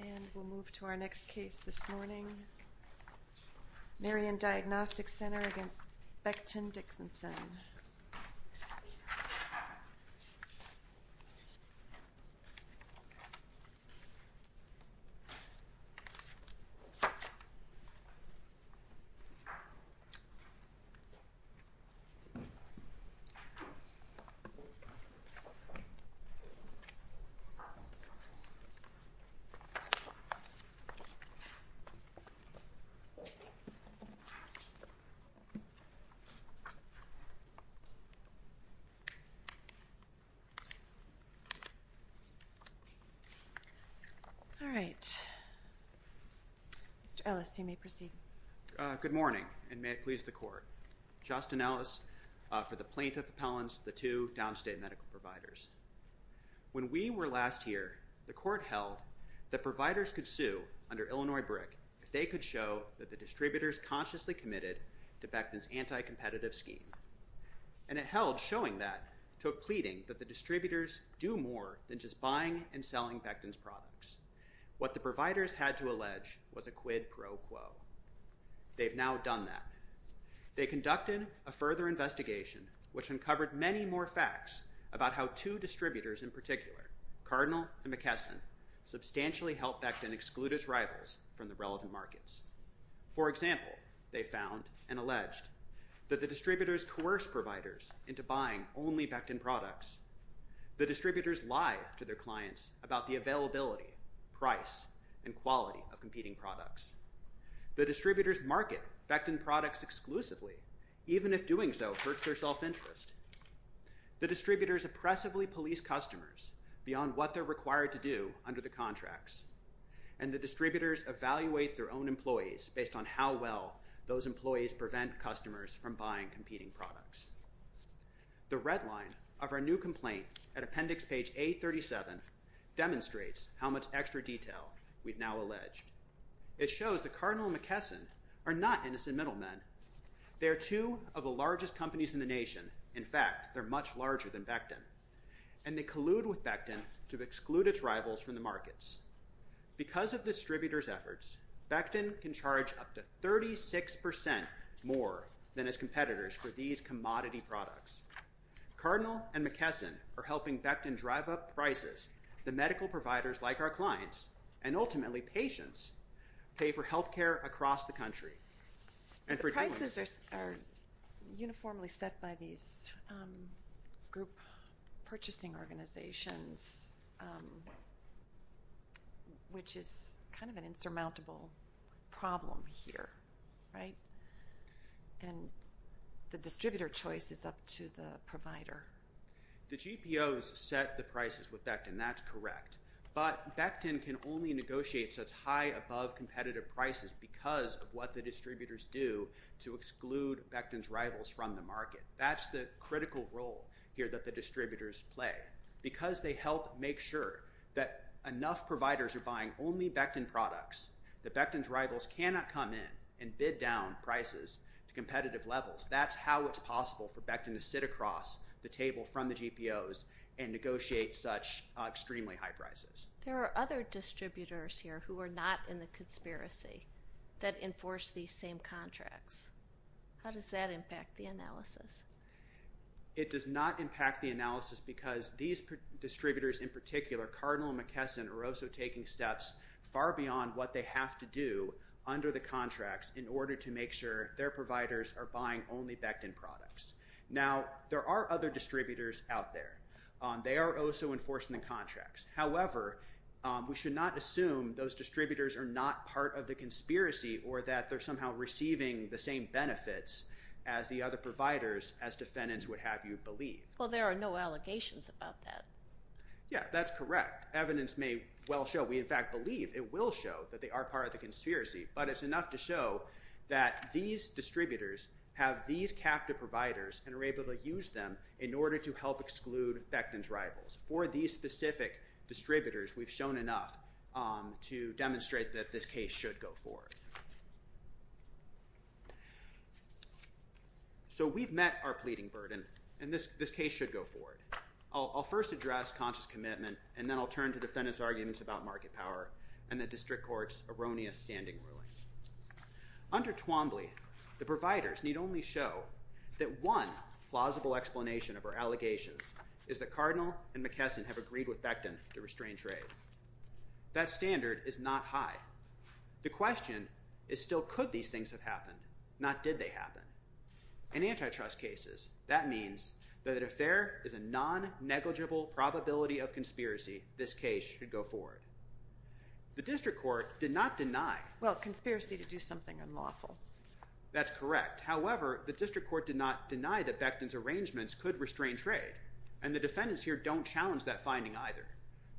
And we'll move to our next case this morning. Marion Diagnostic Center v. Becton Dickinson All right. Mr. Ellis, you may proceed. Good morning, and may it please the Court. Justin Ellis for the Plaintiff Appellants, the two downstate medical providers. When we were last here, the Court held that providers could sue under Illinois BRIC if they could show that the distributors consciously committed to Becton's anti-competitive scheme. And it held showing that to a pleading that the distributors do more than just buying and selling Becton's products. What the providers had to allege was a quid pro quo. They've now done that. They conducted a further investigation, which uncovered many more facts about how two distributors in particular, Cardinal and McKesson, substantially helped Becton exclude its rivals from the relevant markets. For example, they found and alleged that the distributors coerce providers into buying only Becton products. The distributors lie to their clients about the availability, price, and quality of competing products. The distributors market Becton products exclusively, even if doing so hurts their self-interest. The distributors oppressively police customers beyond what they're required to do under the contracts. And the distributors evaluate their own employees based on how well those employees prevent customers from buying competing products. The red line of our new complaint at appendix page 837 demonstrates how much extra detail we've now alleged. It shows that Cardinal and McKesson are not innocent middlemen. They are two of the largest companies in the nation. In fact, they're much larger than Becton. And they collude with Becton to exclude its rivals from the markets. Because of the distributors' efforts, Becton can charge up to 36% more than its competitors for these commodity products. Cardinal and McKesson are helping Becton drive up prices that medical providers like our clients, and ultimately patients, pay for health care across the country. The prices are uniformly set by these group purchasing organizations, which is kind of an insurmountable problem here, right? And the distributor choice is up to the provider. The GPOs set the prices with Becton. That's correct. But Becton can only negotiate such high above competitive prices because of what the distributors do to exclude Becton's rivals from the market. That's the critical role here that the distributors play. Because they help make sure that enough providers are buying only Becton products, that Becton's rivals cannot come in and bid down prices to competitive levels. That's how it's possible for Becton to sit across the table from the GPOs and negotiate such extremely high prices. There are other distributors here who are not in the conspiracy that enforce these same contracts. How does that impact the analysis? It does not impact the analysis because these distributors in particular, Cardinal and McKesson, are also taking steps far beyond what they have to do under the contracts in order to make sure their providers are buying only Becton products. Now, there are other distributors out there. They are also enforcing the contracts. However, we should not assume those distributors are not part of the conspiracy or that they're somehow receiving the same benefits as the other providers, as defendants would have you believe. Well, there are no allegations about that. Yeah, that's correct. In fact, evidence may well show, we in fact believe it will show that they are part of the conspiracy, but it's enough to show that these distributors have these captive providers and are able to use them in order to help exclude Becton's rivals. For these specific distributors, we've shown enough to demonstrate that this case should go forward. So we've met our pleading burden, and this case should go forward. I'll first address conscious commitment, and then I'll turn to defendants' arguments about market power and the district court's erroneous standing ruling. Under Twombly, the providers need only show that one plausible explanation of our allegations is that Cardinal and McKesson have agreed with Becton to restrain trade. That standard is not high. The question is still could these things have happened, not did they happen. In antitrust cases, that means that if there is a non-negligible probability of conspiracy, this case should go forward. The district court did not deny. Well, conspiracy to do something unlawful. That's correct. However, the district court did not deny that Becton's arrangements could restrain trade, and the defendants here don't challenge that finding either.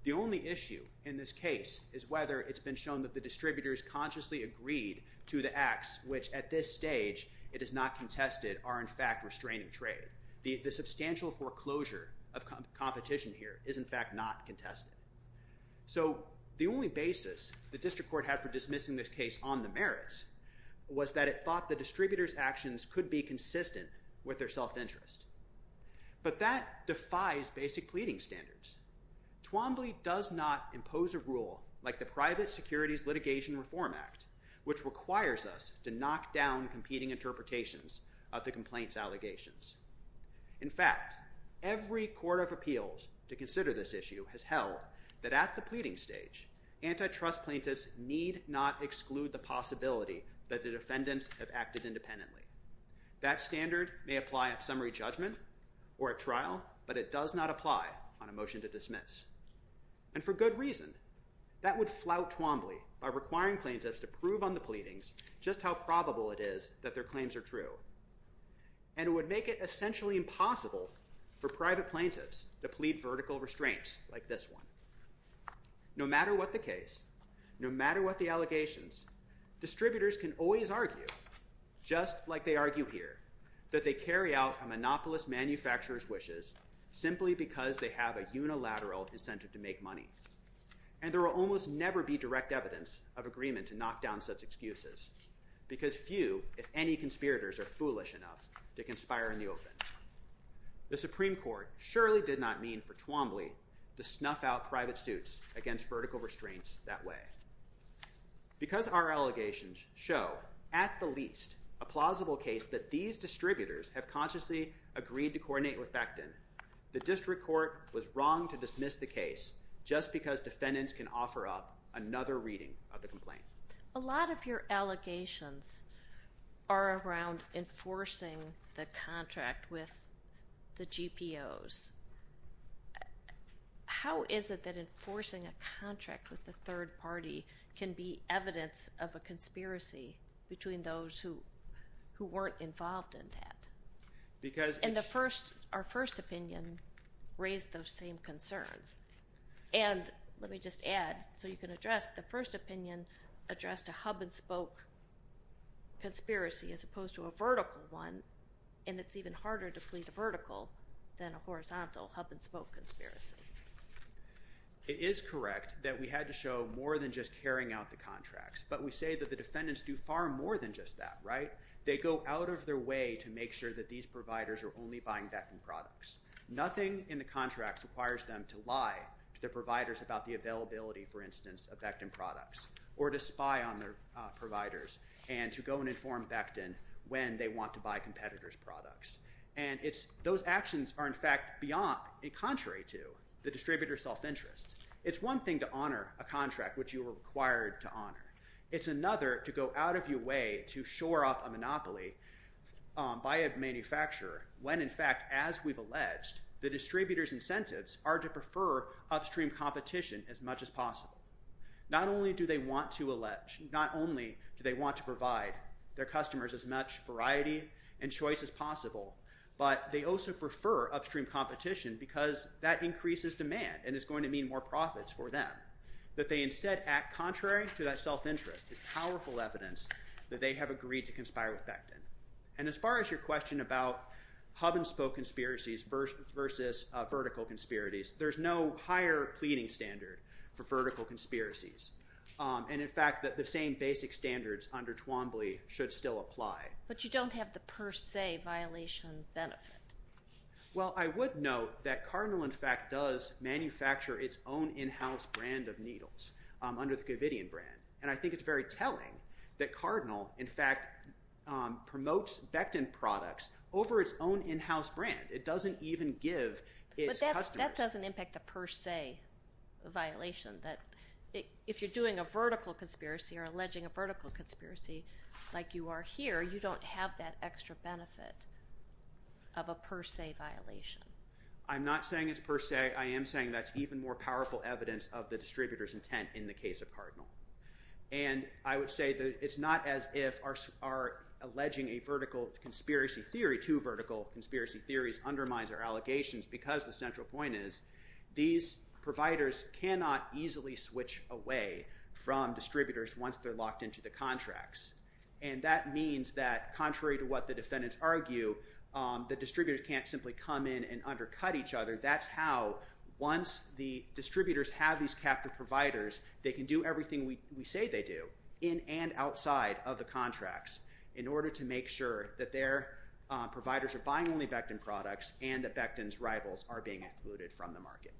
The only issue in this case is whether it's been shown that the distributors consciously agreed to the acts, which at this stage it is not contested, are in fact restraining trade. The substantial foreclosure of competition here is in fact not contested. So the only basis the district court had for dismissing this case on the merits was that it thought the distributors' actions could be consistent with their self-interest. But that defies basic pleading standards. Twombly does not impose a rule like the Private Securities Litigation Reform Act, which requires us to knock down competing interpretations of the complaint's allegations. In fact, every court of appeals to consider this issue has held that at the pleading stage, antitrust plaintiffs need not exclude the possibility that the defendants have acted independently. That standard may apply at summary judgment or at trial, but it does not apply on a motion to dismiss. And for good reason. That would flout Twombly by requiring plaintiffs to prove on the pleadings just how probable it is that their claims are true. And it would make it essentially impossible for private plaintiffs to plead vertical restraints like this one. No matter what the case, no matter what the allegations, distributors can always argue, just like they argue here, that they carry out a monopolist manufacturer's wishes simply because they have a unilateral incentive to make money. And there will almost never be direct evidence of agreement to knock down such excuses, because few, if any, conspirators are foolish enough to conspire in the open. The Supreme Court surely did not mean for Twombly to snuff out private suits against vertical restraints that way. Because our allegations show, at the least, a plausible case that these distributors have consciously agreed to coordinate with Becton, the district court was wrong to dismiss the case just because defendants can offer up another reading of the complaint. A lot of your allegations are around enforcing the contract with the GPOs. How is it that enforcing a contract with a third party can be evidence of a conspiracy between those who weren't involved in that? And our first opinion raised those same concerns. And let me just add, so you can address, the first opinion addressed a hub-and-spoke conspiracy as opposed to a vertical one. And it's even harder to plead a vertical than a horizontal hub-and-spoke conspiracy. It is correct that we had to show more than just carrying out the contracts. But we say that the defendants do far more than just that, right? They go out of their way to make sure that these providers are only buying Becton products. Nothing in the contracts requires them to lie to their providers about the availability, for instance, of Becton products or to spy on their providers and to go and inform Becton when they want to buy competitors' products. And those actions are, in fact, contrary to the distributor's self-interest. It's one thing to honor a contract, which you were required to honor. It's another to go out of your way to shore up a monopoly by a manufacturer when, in fact, as we've alleged, the distributor's incentives are to prefer upstream competition as much as possible. Not only do they want to allege, not only do they want to provide their customers as much variety and choice as possible, but they also prefer upstream competition because that increases demand and is going to mean more profits for them. That they instead act contrary to that self-interest is powerful evidence that they have agreed to conspire with Becton. And as far as your question about hub-and-spoke conspiracies versus vertical conspiracies, there's no higher pleading standard for vertical conspiracies. And, in fact, the same basic standards under Twombly should still apply. But you don't have the per se violation benefit. Well, I would note that Cardinal, in fact, does manufacture its own in-house brand of needles under the Govidian brand. And I think it's very telling that Cardinal, in fact, promotes Becton products over its own in-house brand. It doesn't even give its customers… If you're doing a vertical conspiracy or alleging a vertical conspiracy like you are here, you don't have that extra benefit of a per se violation. I'm not saying it's per se. I am saying that's even more powerful evidence of the distributor's intent in the case of Cardinal. And I would say that it's not as if our alleging a vertical conspiracy theory to vertical conspiracy theories undermines our allegations because the central point is these providers cannot easily switch away from distributors once they're locked into the contracts. And that means that, contrary to what the defendants argue, the distributors can't simply come in and undercut each other. That's how, once the distributors have these captive providers, they can do everything we say they do in and outside of the contracts in order to make sure that their providers are buying only Becton products and that Becton's rivals are being excluded from the market.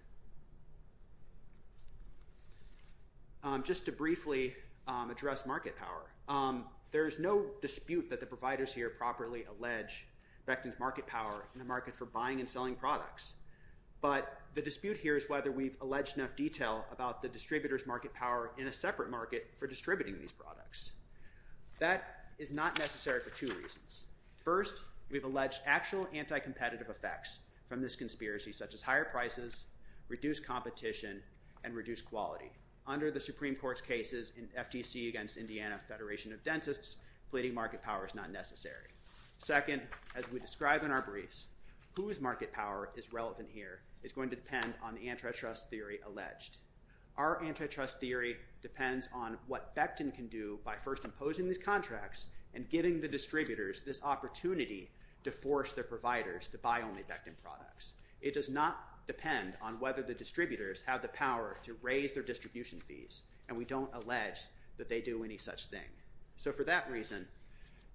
Just to briefly address market power, there is no dispute that the providers here properly allege Becton's market power in the market for buying and selling products. But the dispute here is whether we've alleged enough detail about the distributor's market power in a separate market for distributing these products. That is not necessary for two reasons. First, we've alleged actual anti-competitive effects from this conspiracy, such as higher prices, reduced competition, and reduced quality. Under the Supreme Court's cases in FTC against Indiana Federation of Dentists, pleading market power is not necessary. Second, as we describe in our briefs, whose market power is relevant here is going to depend on the antitrust theory alleged. Our antitrust theory depends on what Becton can do by first imposing these contracts and giving the distributors this opportunity to force their providers to buy only Becton products. It does not depend on whether the distributors have the power to raise their distribution fees, and we don't allege that they do any such thing. So for that reason,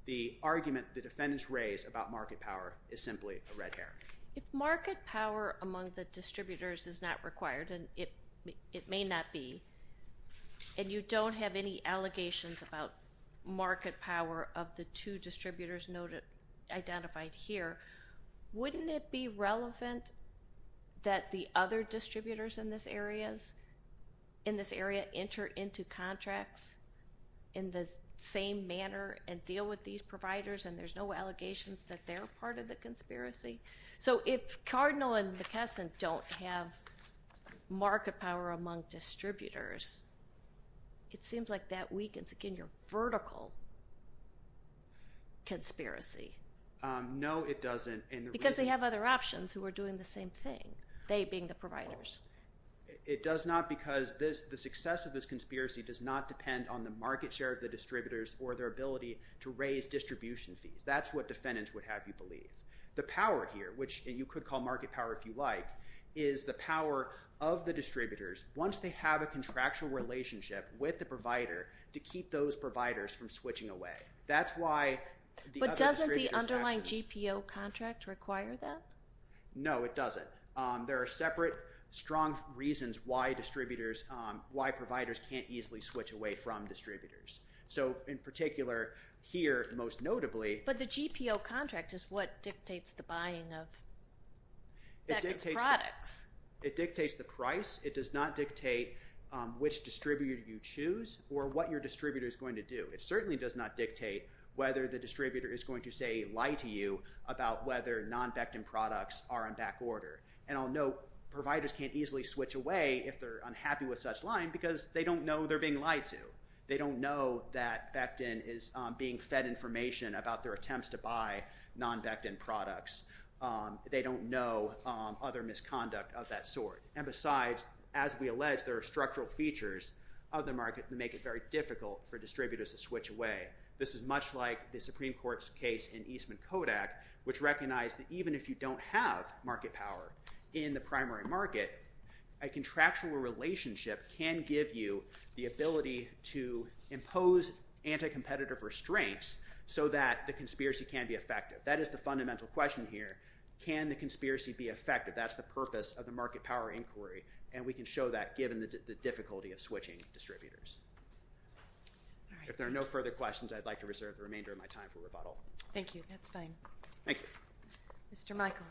the argument the defendants raise about market power is simply a red herring. If market power among the distributors is not required, and it may not be, and you don't have any allegations about market power of the two distributors identified here, wouldn't it be relevant that the other distributors in this area enter into contracts in the same manner and deal with these providers, and there's no allegations that they're part of the conspiracy? So if Cardinal and McKesson don't have market power among distributors, it seems like that weakens, again, your vertical conspiracy. No, it doesn't. Because they have other options who are doing the same thing, they being the providers. It does not because the success of this conspiracy does not depend on the market share of the distributors or their ability to raise distribution fees. That's what defendants would have you believe. The power here, which you could call market power if you like, is the power of the distributors once they have a contractual relationship with the provider to keep those providers from switching away. But doesn't the underlying GPO contract require that? No, it doesn't. There are separate strong reasons why providers can't easily switch away from distributors. So in particular here, most notably— But the GPO contract is what dictates the buying of Beckett's products. It dictates the price. It does not dictate which distributor you choose or what your distributor is going to do. It certainly does not dictate whether the distributor is going to, say, lie to you about whether non-Beckton products are in back order. And I'll note providers can't easily switch away if they're unhappy with such lying because they don't know they're being lied to. They don't know that Beckton is being fed information about their attempts to buy non-Beckton products. They don't know other misconduct of that sort. And besides, as we allege, there are structural features of the market that make it very difficult for distributors to switch away. This is much like the Supreme Court's case in Eastman Kodak, which recognized that even if you don't have market power in the primary market, a contractual relationship can give you the ability to impose anti-competitive restraints so that the conspiracy can be effective. That is the fundamental question here. Can the conspiracy be effective? That's the purpose of the market power inquiry, and we can show that given the difficulty of switching distributors. If there are no further questions, I'd like to reserve the remainder of my time for rebuttal. Thank you. That's fine. Thank you. Mr. Michael.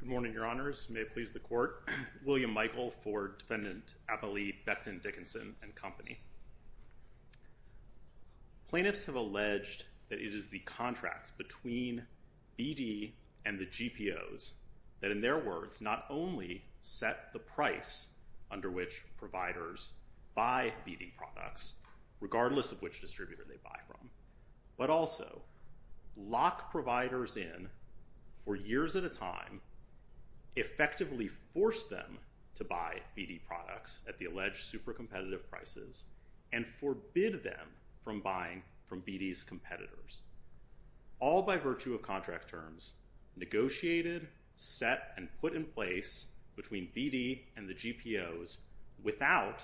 Good morning, Your Honors. May it please the Court. William Michael for Defendant Abile Beckton Dickinson and Company. Plaintiffs have alleged that it is the contracts between BD and the GPOs that, in their words, not only set the price under which providers buy BD products regardless of which distributor they buy from, but also lock providers in for years at a time, effectively force them to buy BD products at the alleged super competitive prices, and forbid them from buying from BD's competitors. All by virtue of contract terms negotiated, set, and put in place between BD and the GPOs without,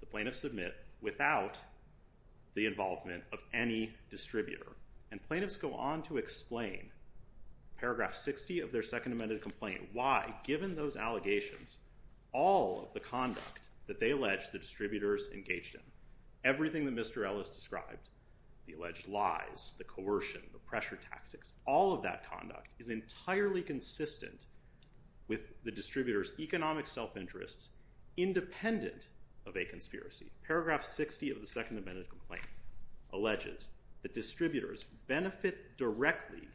the plaintiffs admit, without the involvement of any distributor. And plaintiffs go on to explain, paragraph 60 of their Second Amended Complaint, why, given those allegations, all of the conduct that they allege the distributors engaged in, everything that Mr. Ellis described, the alleged lies, the coercion, the pressure tactics, all of that conduct is entirely consistent with the distributors' economic self-interests independent of a conspiracy. Paragraph 60 of the Second Amended Complaint alleges that distributors benefit directly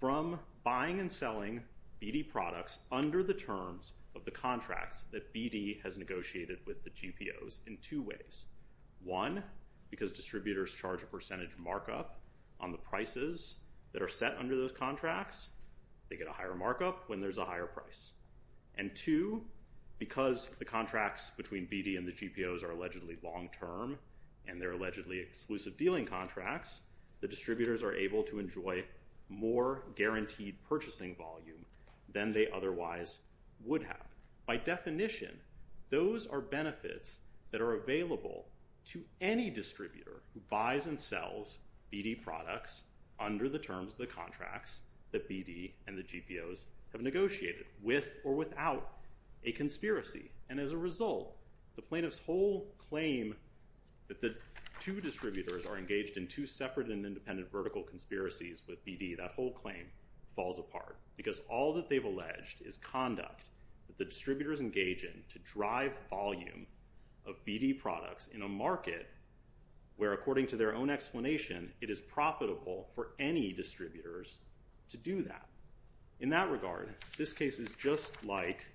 from buying and selling BD products under the terms of the contracts that BD has negotiated with the GPOs in two ways. One, because distributors charge a percentage markup on the prices that are set under those contracts, they get a higher markup when there's a higher price. And two, because the contracts between BD and the GPOs are allegedly long term, and they're allegedly exclusive dealing contracts, the distributors are able to enjoy more guaranteed purchasing volume than they otherwise would have. By definition, those are benefits that are available to any distributor who buys and sells BD products under the terms of the contracts that BD and the GPOs have negotiated with or without a conspiracy. And as a result, the plaintiff's whole claim that the two distributors are engaged in two separate and independent vertical conspiracies with BD, that whole claim falls apart, because all that they've alleged is conduct that the distributors engage in to drive volume of BD products in a market where, according to their own explanation, it is profitable for any distributors to do that. In that regard, this case is just like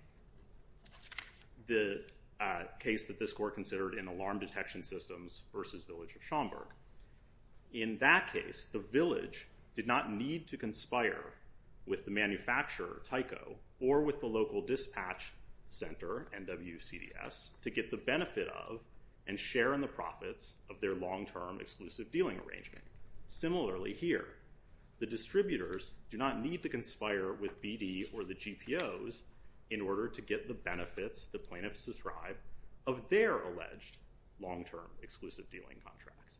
the case that this court considered in alarm detection systems versus Village of Schaumburg. In that case, the village did not need to conspire with the manufacturer, Tyco, or with the local dispatch center, NWCDS, to get the benefit of and share in the profits of their long term exclusive dealing arrangement. Similarly here, the distributors do not need to conspire with BD or the GPOs in order to get the benefits the plaintiffs describe of their alleged long term exclusive dealing contracts.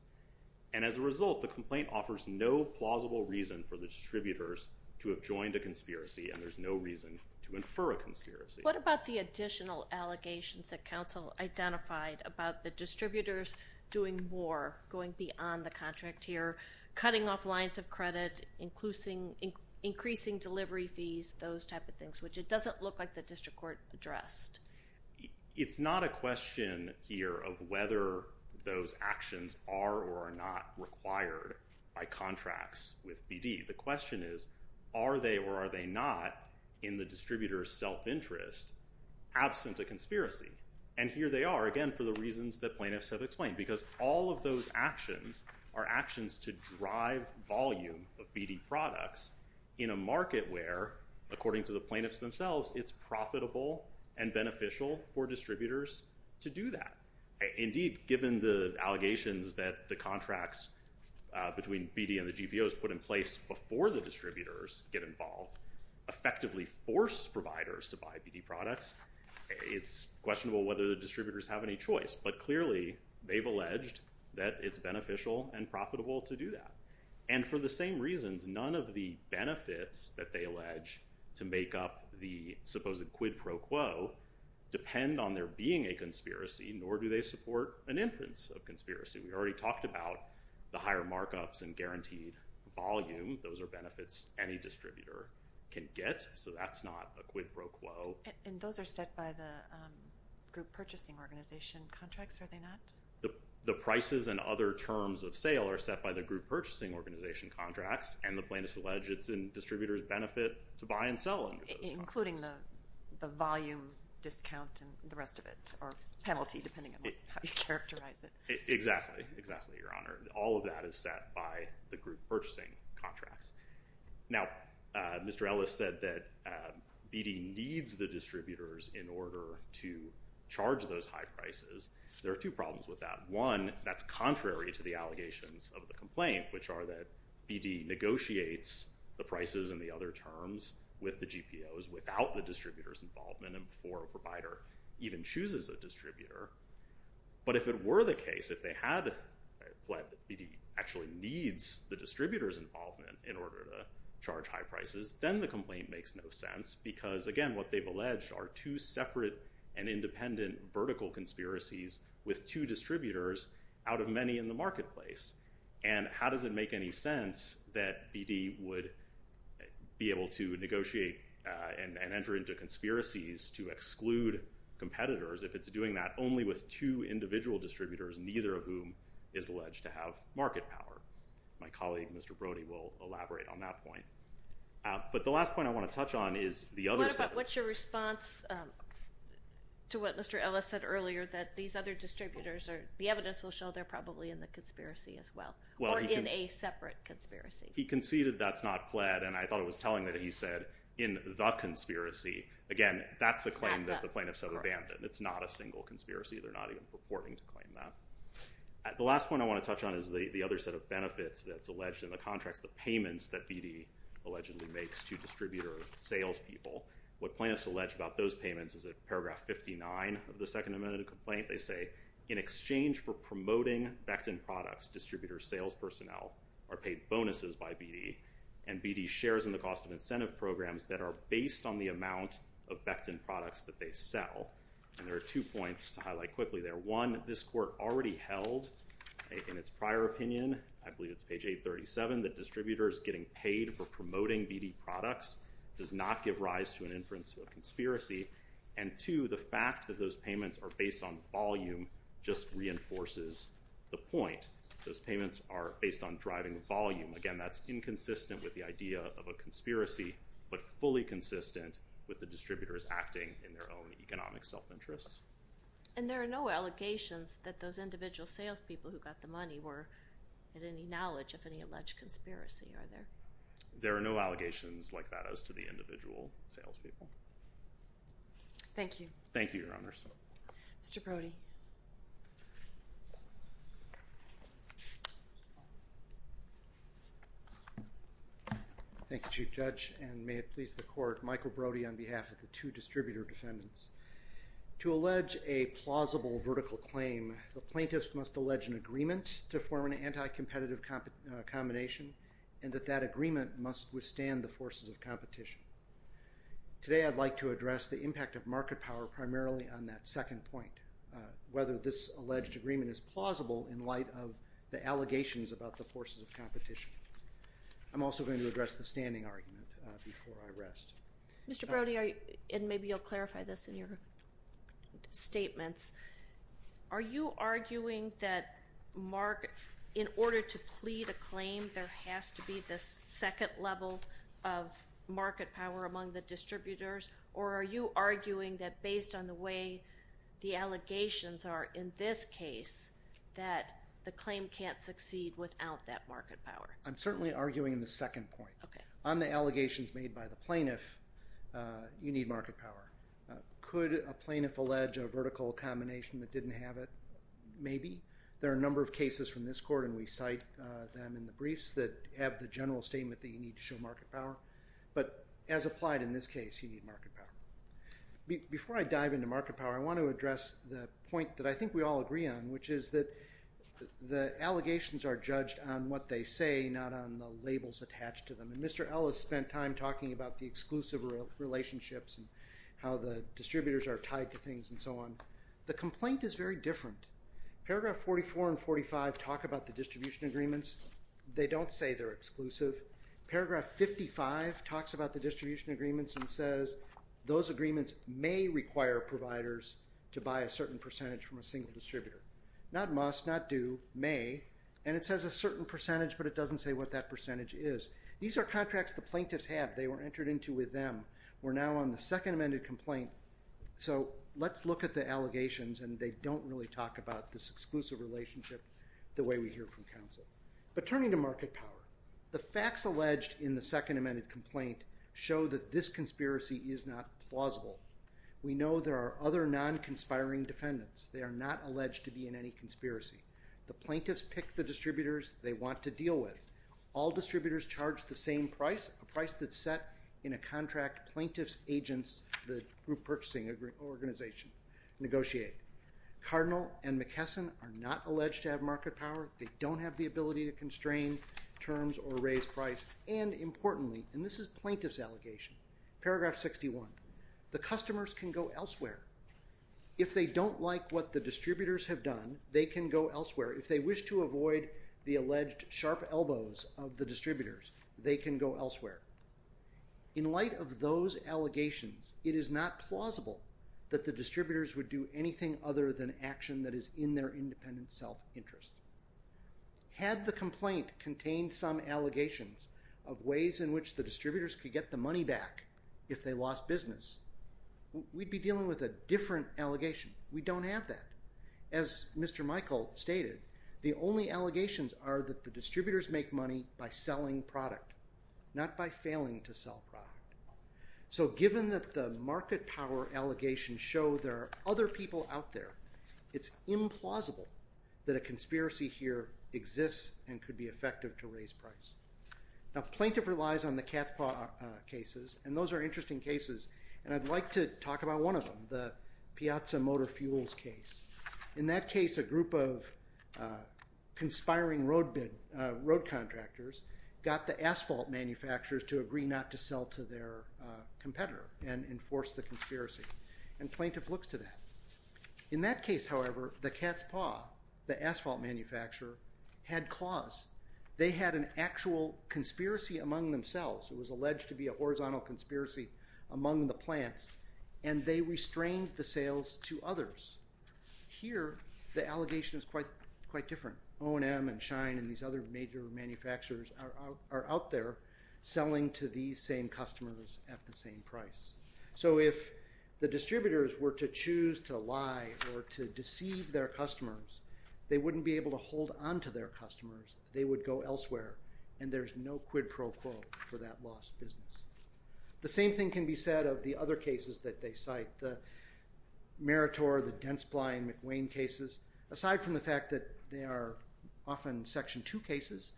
And as a result, the complaint offers no plausible reason for the distributors to have joined a conspiracy, and there's no reason to infer a conspiracy. What about the additional allegations that counsel identified about the distributors doing more, going beyond the contract here, cutting off lines of credit, increasing delivery fees, those type of things, which it doesn't look like the district court addressed. It's not a question here of whether those actions are or are not required by contracts with BD. The question is, are they or are they not in the distributor's self-interest, absent a conspiracy? And here they are, again, for the reasons that plaintiffs have explained, because all of those actions are actions to drive volume of BD products in a market where, according to the plaintiffs themselves, it's profitable and beneficial for distributors to do that. Indeed, given the allegations that the contracts between BD and the GPOs put in place before the distributors get involved effectively force providers to buy BD products, it's questionable whether the distributors have any choice. But clearly, they've alleged that it's beneficial and profitable to do that. And for the same reasons, none of the benefits that they allege to make up the supposed quid pro quo depend on there being a conspiracy, nor do they support an inference of conspiracy. We already talked about the higher markups and guaranteed volume. Those are benefits any distributor can get, so that's not a quid pro quo. And those are set by the group purchasing organization contracts, are they not? The prices and other terms of sale are set by the group purchasing organization contracts, and the plaintiffs allege it's in distributors' benefit to buy and sell any of those products. Including the volume discount and the rest of it, or penalty, depending on how you characterize it. Exactly, exactly, Your Honor. All of that is set by the group purchasing contracts. Now, Mr. Ellis said that BD needs the distributors in order to charge those high prices. There are two problems with that. One, that's contrary to the allegations of the complaint, which are that BD negotiates the prices and the other terms with the GPOs without the distributors' involvement, and before a provider even chooses a distributor. But if it were the case, if BD actually needs the distributors' involvement in order to charge high prices, then the complaint makes no sense. Because, again, what they've alleged are two separate and independent vertical conspiracies with two distributors out of many in the marketplace. And how does it make any sense that BD would be able to negotiate and enter into conspiracies to exclude competitors if it's doing that only with two individual distributors, neither of whom is alleged to have market power? My colleague, Mr. Brody, will elaborate on that point. But the last point I want to touch on is the other set of— Or in a separate conspiracy. He conceded that's not pled, and I thought it was telling that he said, in the conspiracy. Again, that's a claim that the plaintiffs have abandoned. It's not a single conspiracy. They're not even purporting to claim that. The last point I want to touch on is the other set of benefits that's alleged in the contracts, the payments that BD allegedly makes to distributor salespeople. What plaintiffs allege about those payments is that paragraph 59 of the Second Amendment of the complaint, they say, in exchange for promoting Becton products, distributor sales personnel are paid bonuses by BD, and BD shares in the cost of incentive programs that are based on the amount of Becton products that they sell. And there are two points to highlight quickly there. One, this court already held in its prior opinion—I believe it's page 837—that distributors getting paid for promoting BD products does not give rise to an inference of a conspiracy. And two, the fact that those payments are based on volume just reinforces the point. Those payments are based on driving volume. Again, that's inconsistent with the idea of a conspiracy, but fully consistent with the distributors acting in their own economic self-interests. And there are no allegations that those individual salespeople who got the money were at any knowledge of any alleged conspiracy, are there? There are no allegations like that as to the individual salespeople. Thank you. Thank you, Your Honors. Mr. Brody. Thank you, Chief Judge, and may it please the Court, Michael Brody on behalf of the two distributor defendants. To allege a plausible vertical claim, the plaintiffs must allege an agreement to form an anti-competitive combination, and that that agreement must withstand the forces of competition. Today I'd like to address the impact of market power primarily on that second point, whether this alleged agreement is plausible in light of the allegations about the forces of competition. I'm also going to address the standing argument before I rest. Mr. Brody, and maybe you'll clarify this in your statements, are you arguing that in order to plead a claim, there has to be this second level of market power among the distributors, or are you arguing that based on the way the allegations are in this case, that the claim can't succeed without that market power? I'm certainly arguing the second point. On the allegations made by the plaintiff, you need market power. Could a plaintiff allege a vertical combination that didn't have it? Maybe. There are a number of cases from this Court, and we cite them in the briefs, that have the general statement that you need to show market power. But as applied in this case, you need market power. Before I dive into market power, I want to address the point that I think we all agree on, which is that the allegations are judged on what they say, not on the labels attached to them. And Mr. Ellis spent time talking about the exclusive relationships and how the distributors are tied to things and so on. The complaint is very different. Paragraph 44 and 45 talk about the distribution agreements. They don't say they're exclusive. Paragraph 55 talks about the distribution agreements and says those agreements may require providers to buy a certain percentage from a single distributor. Not must, not do, may. And it says a certain percentage, but it doesn't say what that percentage is. These are contracts the plaintiffs have. They were entered into with them. We're now on the second amended complaint, so let's look at the allegations, and they don't really talk about this exclusive relationship the way we hear from counsel. But turning to market power, the facts alleged in the second amended complaint show that this conspiracy is not plausible. We know there are other non-conspiring defendants. They are not alleged to be in any conspiracy. The plaintiffs pick the distributors they want to deal with. All distributors charge the same price, a price that's set in a contract plaintiffs' agents, the group purchasing organization, negotiate. Cardinal and McKesson are not alleged to have market power. They don't have the ability to constrain terms or raise price. And importantly, and this is plaintiff's allegation, paragraph 61, the customers can go elsewhere. If they don't like what the distributors have done, they can go elsewhere. If they wish to avoid the alleged sharp elbows of the distributors, they can go elsewhere. In light of those allegations, it is not plausible that the distributors would do anything other than action that is in their independent self-interest. Had the complaint contained some allegations of ways in which the distributors could get the money back if they lost business, we'd be dealing with a different allegation. We don't have that. As Mr. Michael stated, the only allegations are that the distributors make money by selling product, not by failing to sell product. So given that the market power allegations show there are other people out there, it's implausible that a conspiracy here exists and could be effective to raise price. Now, plaintiff relies on the cat's paw cases, and those are interesting cases, and I'd like to talk about one of them, the Piazza Motor Fuels case. In that case, a group of conspiring road contractors got the asphalt manufacturers to agree not to sell to their competitor and enforce the conspiracy, and plaintiff looks to that. In that case, however, the cat's paw, the asphalt manufacturer, had claws. They had an actual conspiracy among themselves. It was alleged to be a horizontal conspiracy among the plants, and they restrained the sales to others. Here, the allegation is quite different. O&M and Shine and these other major manufacturers are out there selling to these same customers at the same price. So if the distributors were to choose to lie or to deceive their customers, they wouldn't be able to hold on to their customers. They would go elsewhere, and there's no quid pro quo for that lost business. The same thing can be said of the other cases that they cite, the Meritor, the Dentsply, and McWane cases. Aside from the fact that they are often Section 2 cases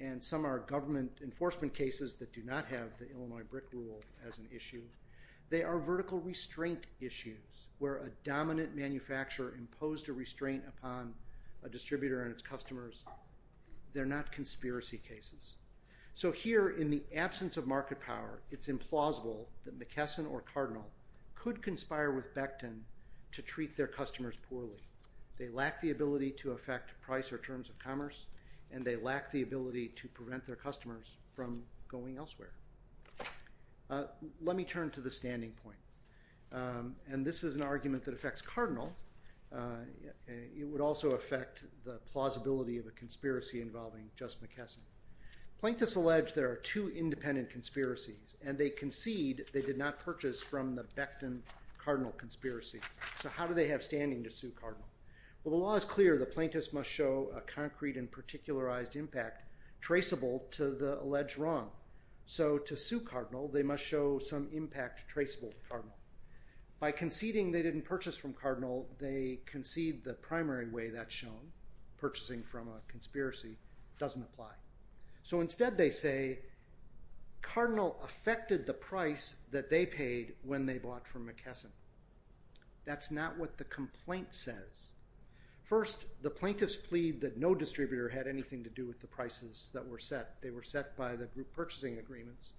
and some are government enforcement cases that do not have the Illinois BRIC rule as an issue, they are vertical restraint issues where a dominant manufacturer imposed a restraint upon a distributor and its customers. They're not conspiracy cases. So here, in the absence of market power, it's implausible that McKesson or Cardinal could conspire with Becton to treat their customers poorly. They lack the ability to affect price or terms of commerce, and they lack the ability to prevent their customers from going elsewhere. Let me turn to the standing point, and this is an argument that affects Cardinal. It would also affect the plausibility of a conspiracy involving just McKesson. Plaintiffs allege there are two independent conspiracies, and they concede they did not purchase from the Becton-Cardinal conspiracy. So how do they have standing to sue Cardinal? Well, the law is clear. The plaintiffs must show a concrete and particularized impact traceable to the alleged wrong. So to sue Cardinal, they must show some impact traceable to Cardinal. By conceding they didn't purchase from Cardinal, they concede the primary way that's shown, purchasing from a conspiracy, doesn't apply. So instead they say Cardinal affected the price that they paid when they bought from McKesson. That's not what the complaint says. First, the plaintiffs plead that no distributor had anything to do with the prices that were set. They were set by the group purchasing agreements,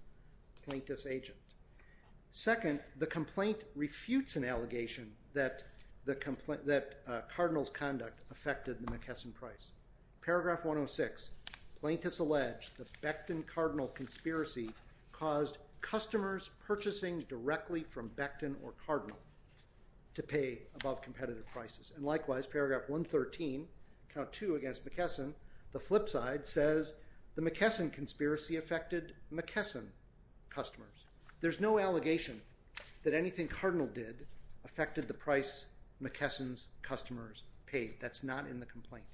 plaintiff's agent. Second, the complaint refutes an allegation that Cardinal's conduct affected the McKesson price. Paragraph 106, plaintiffs allege the Becton-Cardinal conspiracy caused customers purchasing directly from Becton or Cardinal to pay above competitive prices. And likewise, paragraph 113, count two against McKesson, the flip side says the McKesson conspiracy affected McKesson customers. There's no allegation that anything Cardinal did affected the price McKesson's customers paid. That's not in the complaint.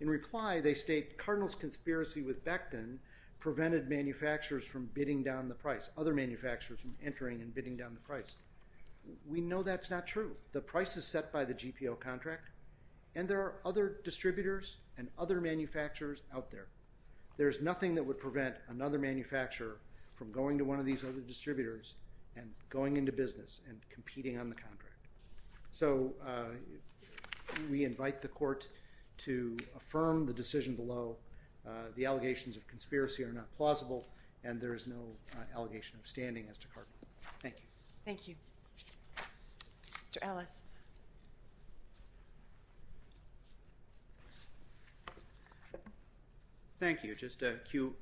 In reply they state Cardinal's conspiracy with Becton prevented manufacturers from bidding down the price, other manufacturers from entering and bidding down the price. We know that's not true. The price is set by the GPO contract and there are other distributors and other manufacturers out there. There's nothing that would prevent another manufacturer from going to one of these other distributors and going into business and competing on the contract. So we invite the court to affirm the decision below. The allegations of conspiracy are not plausible and there is no allegation of standing as to Cardinal. Thank you. Thank you. Mr. Ellis. Thank you. Just a few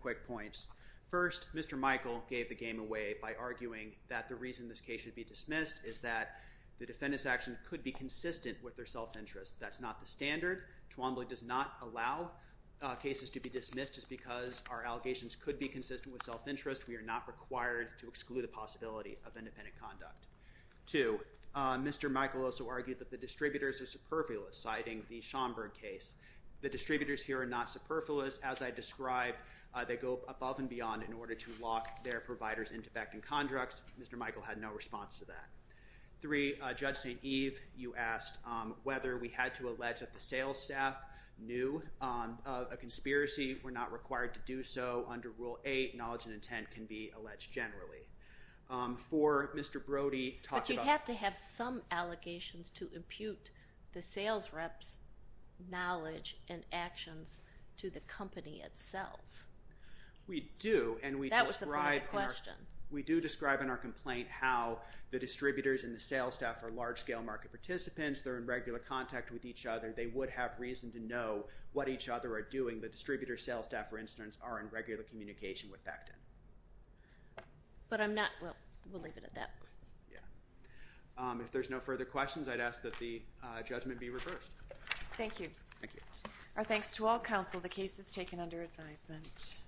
quick points. First, Mr. Michael gave the game away by arguing that the reason this case should be dismissed is that the defendant's action could be consistent with their self-interest. That's not the standard. Twombly does not allow cases to be dismissed just because our allegations could be consistent with self-interest. We are not required to exclude the possibility of independent conduct. Two, Mr. Michael also argued that the distributors are superfluous, citing the Schomburg case. The distributors here are not superfluous. As I described, they go above and beyond in order to lock their providers into beckoning contracts. Mr. Michael had no response to that. Three, Judge St. Eve, you asked whether we had to allege that the sales staff knew of a conspiracy. We're not required to do so under Rule 8. Knowledge and intent can be alleged generally. Four, Mr. Brody talked about- to impute the sales rep's knowledge and actions to the company itself. That was the point of the question. We do describe in our complaint how the distributors and the sales staff are large-scale market participants. They're in regular contact with each other. They would have reason to know what each other are doing. The distributor sales staff, for instance, are in regular communication with Becton. But I'm not-well, we'll leave it at that. If there's no further questions, I'd ask that the judgment be reversed. Thank you. Thank you. Our thanks to all counsel. The case is taken under advisement.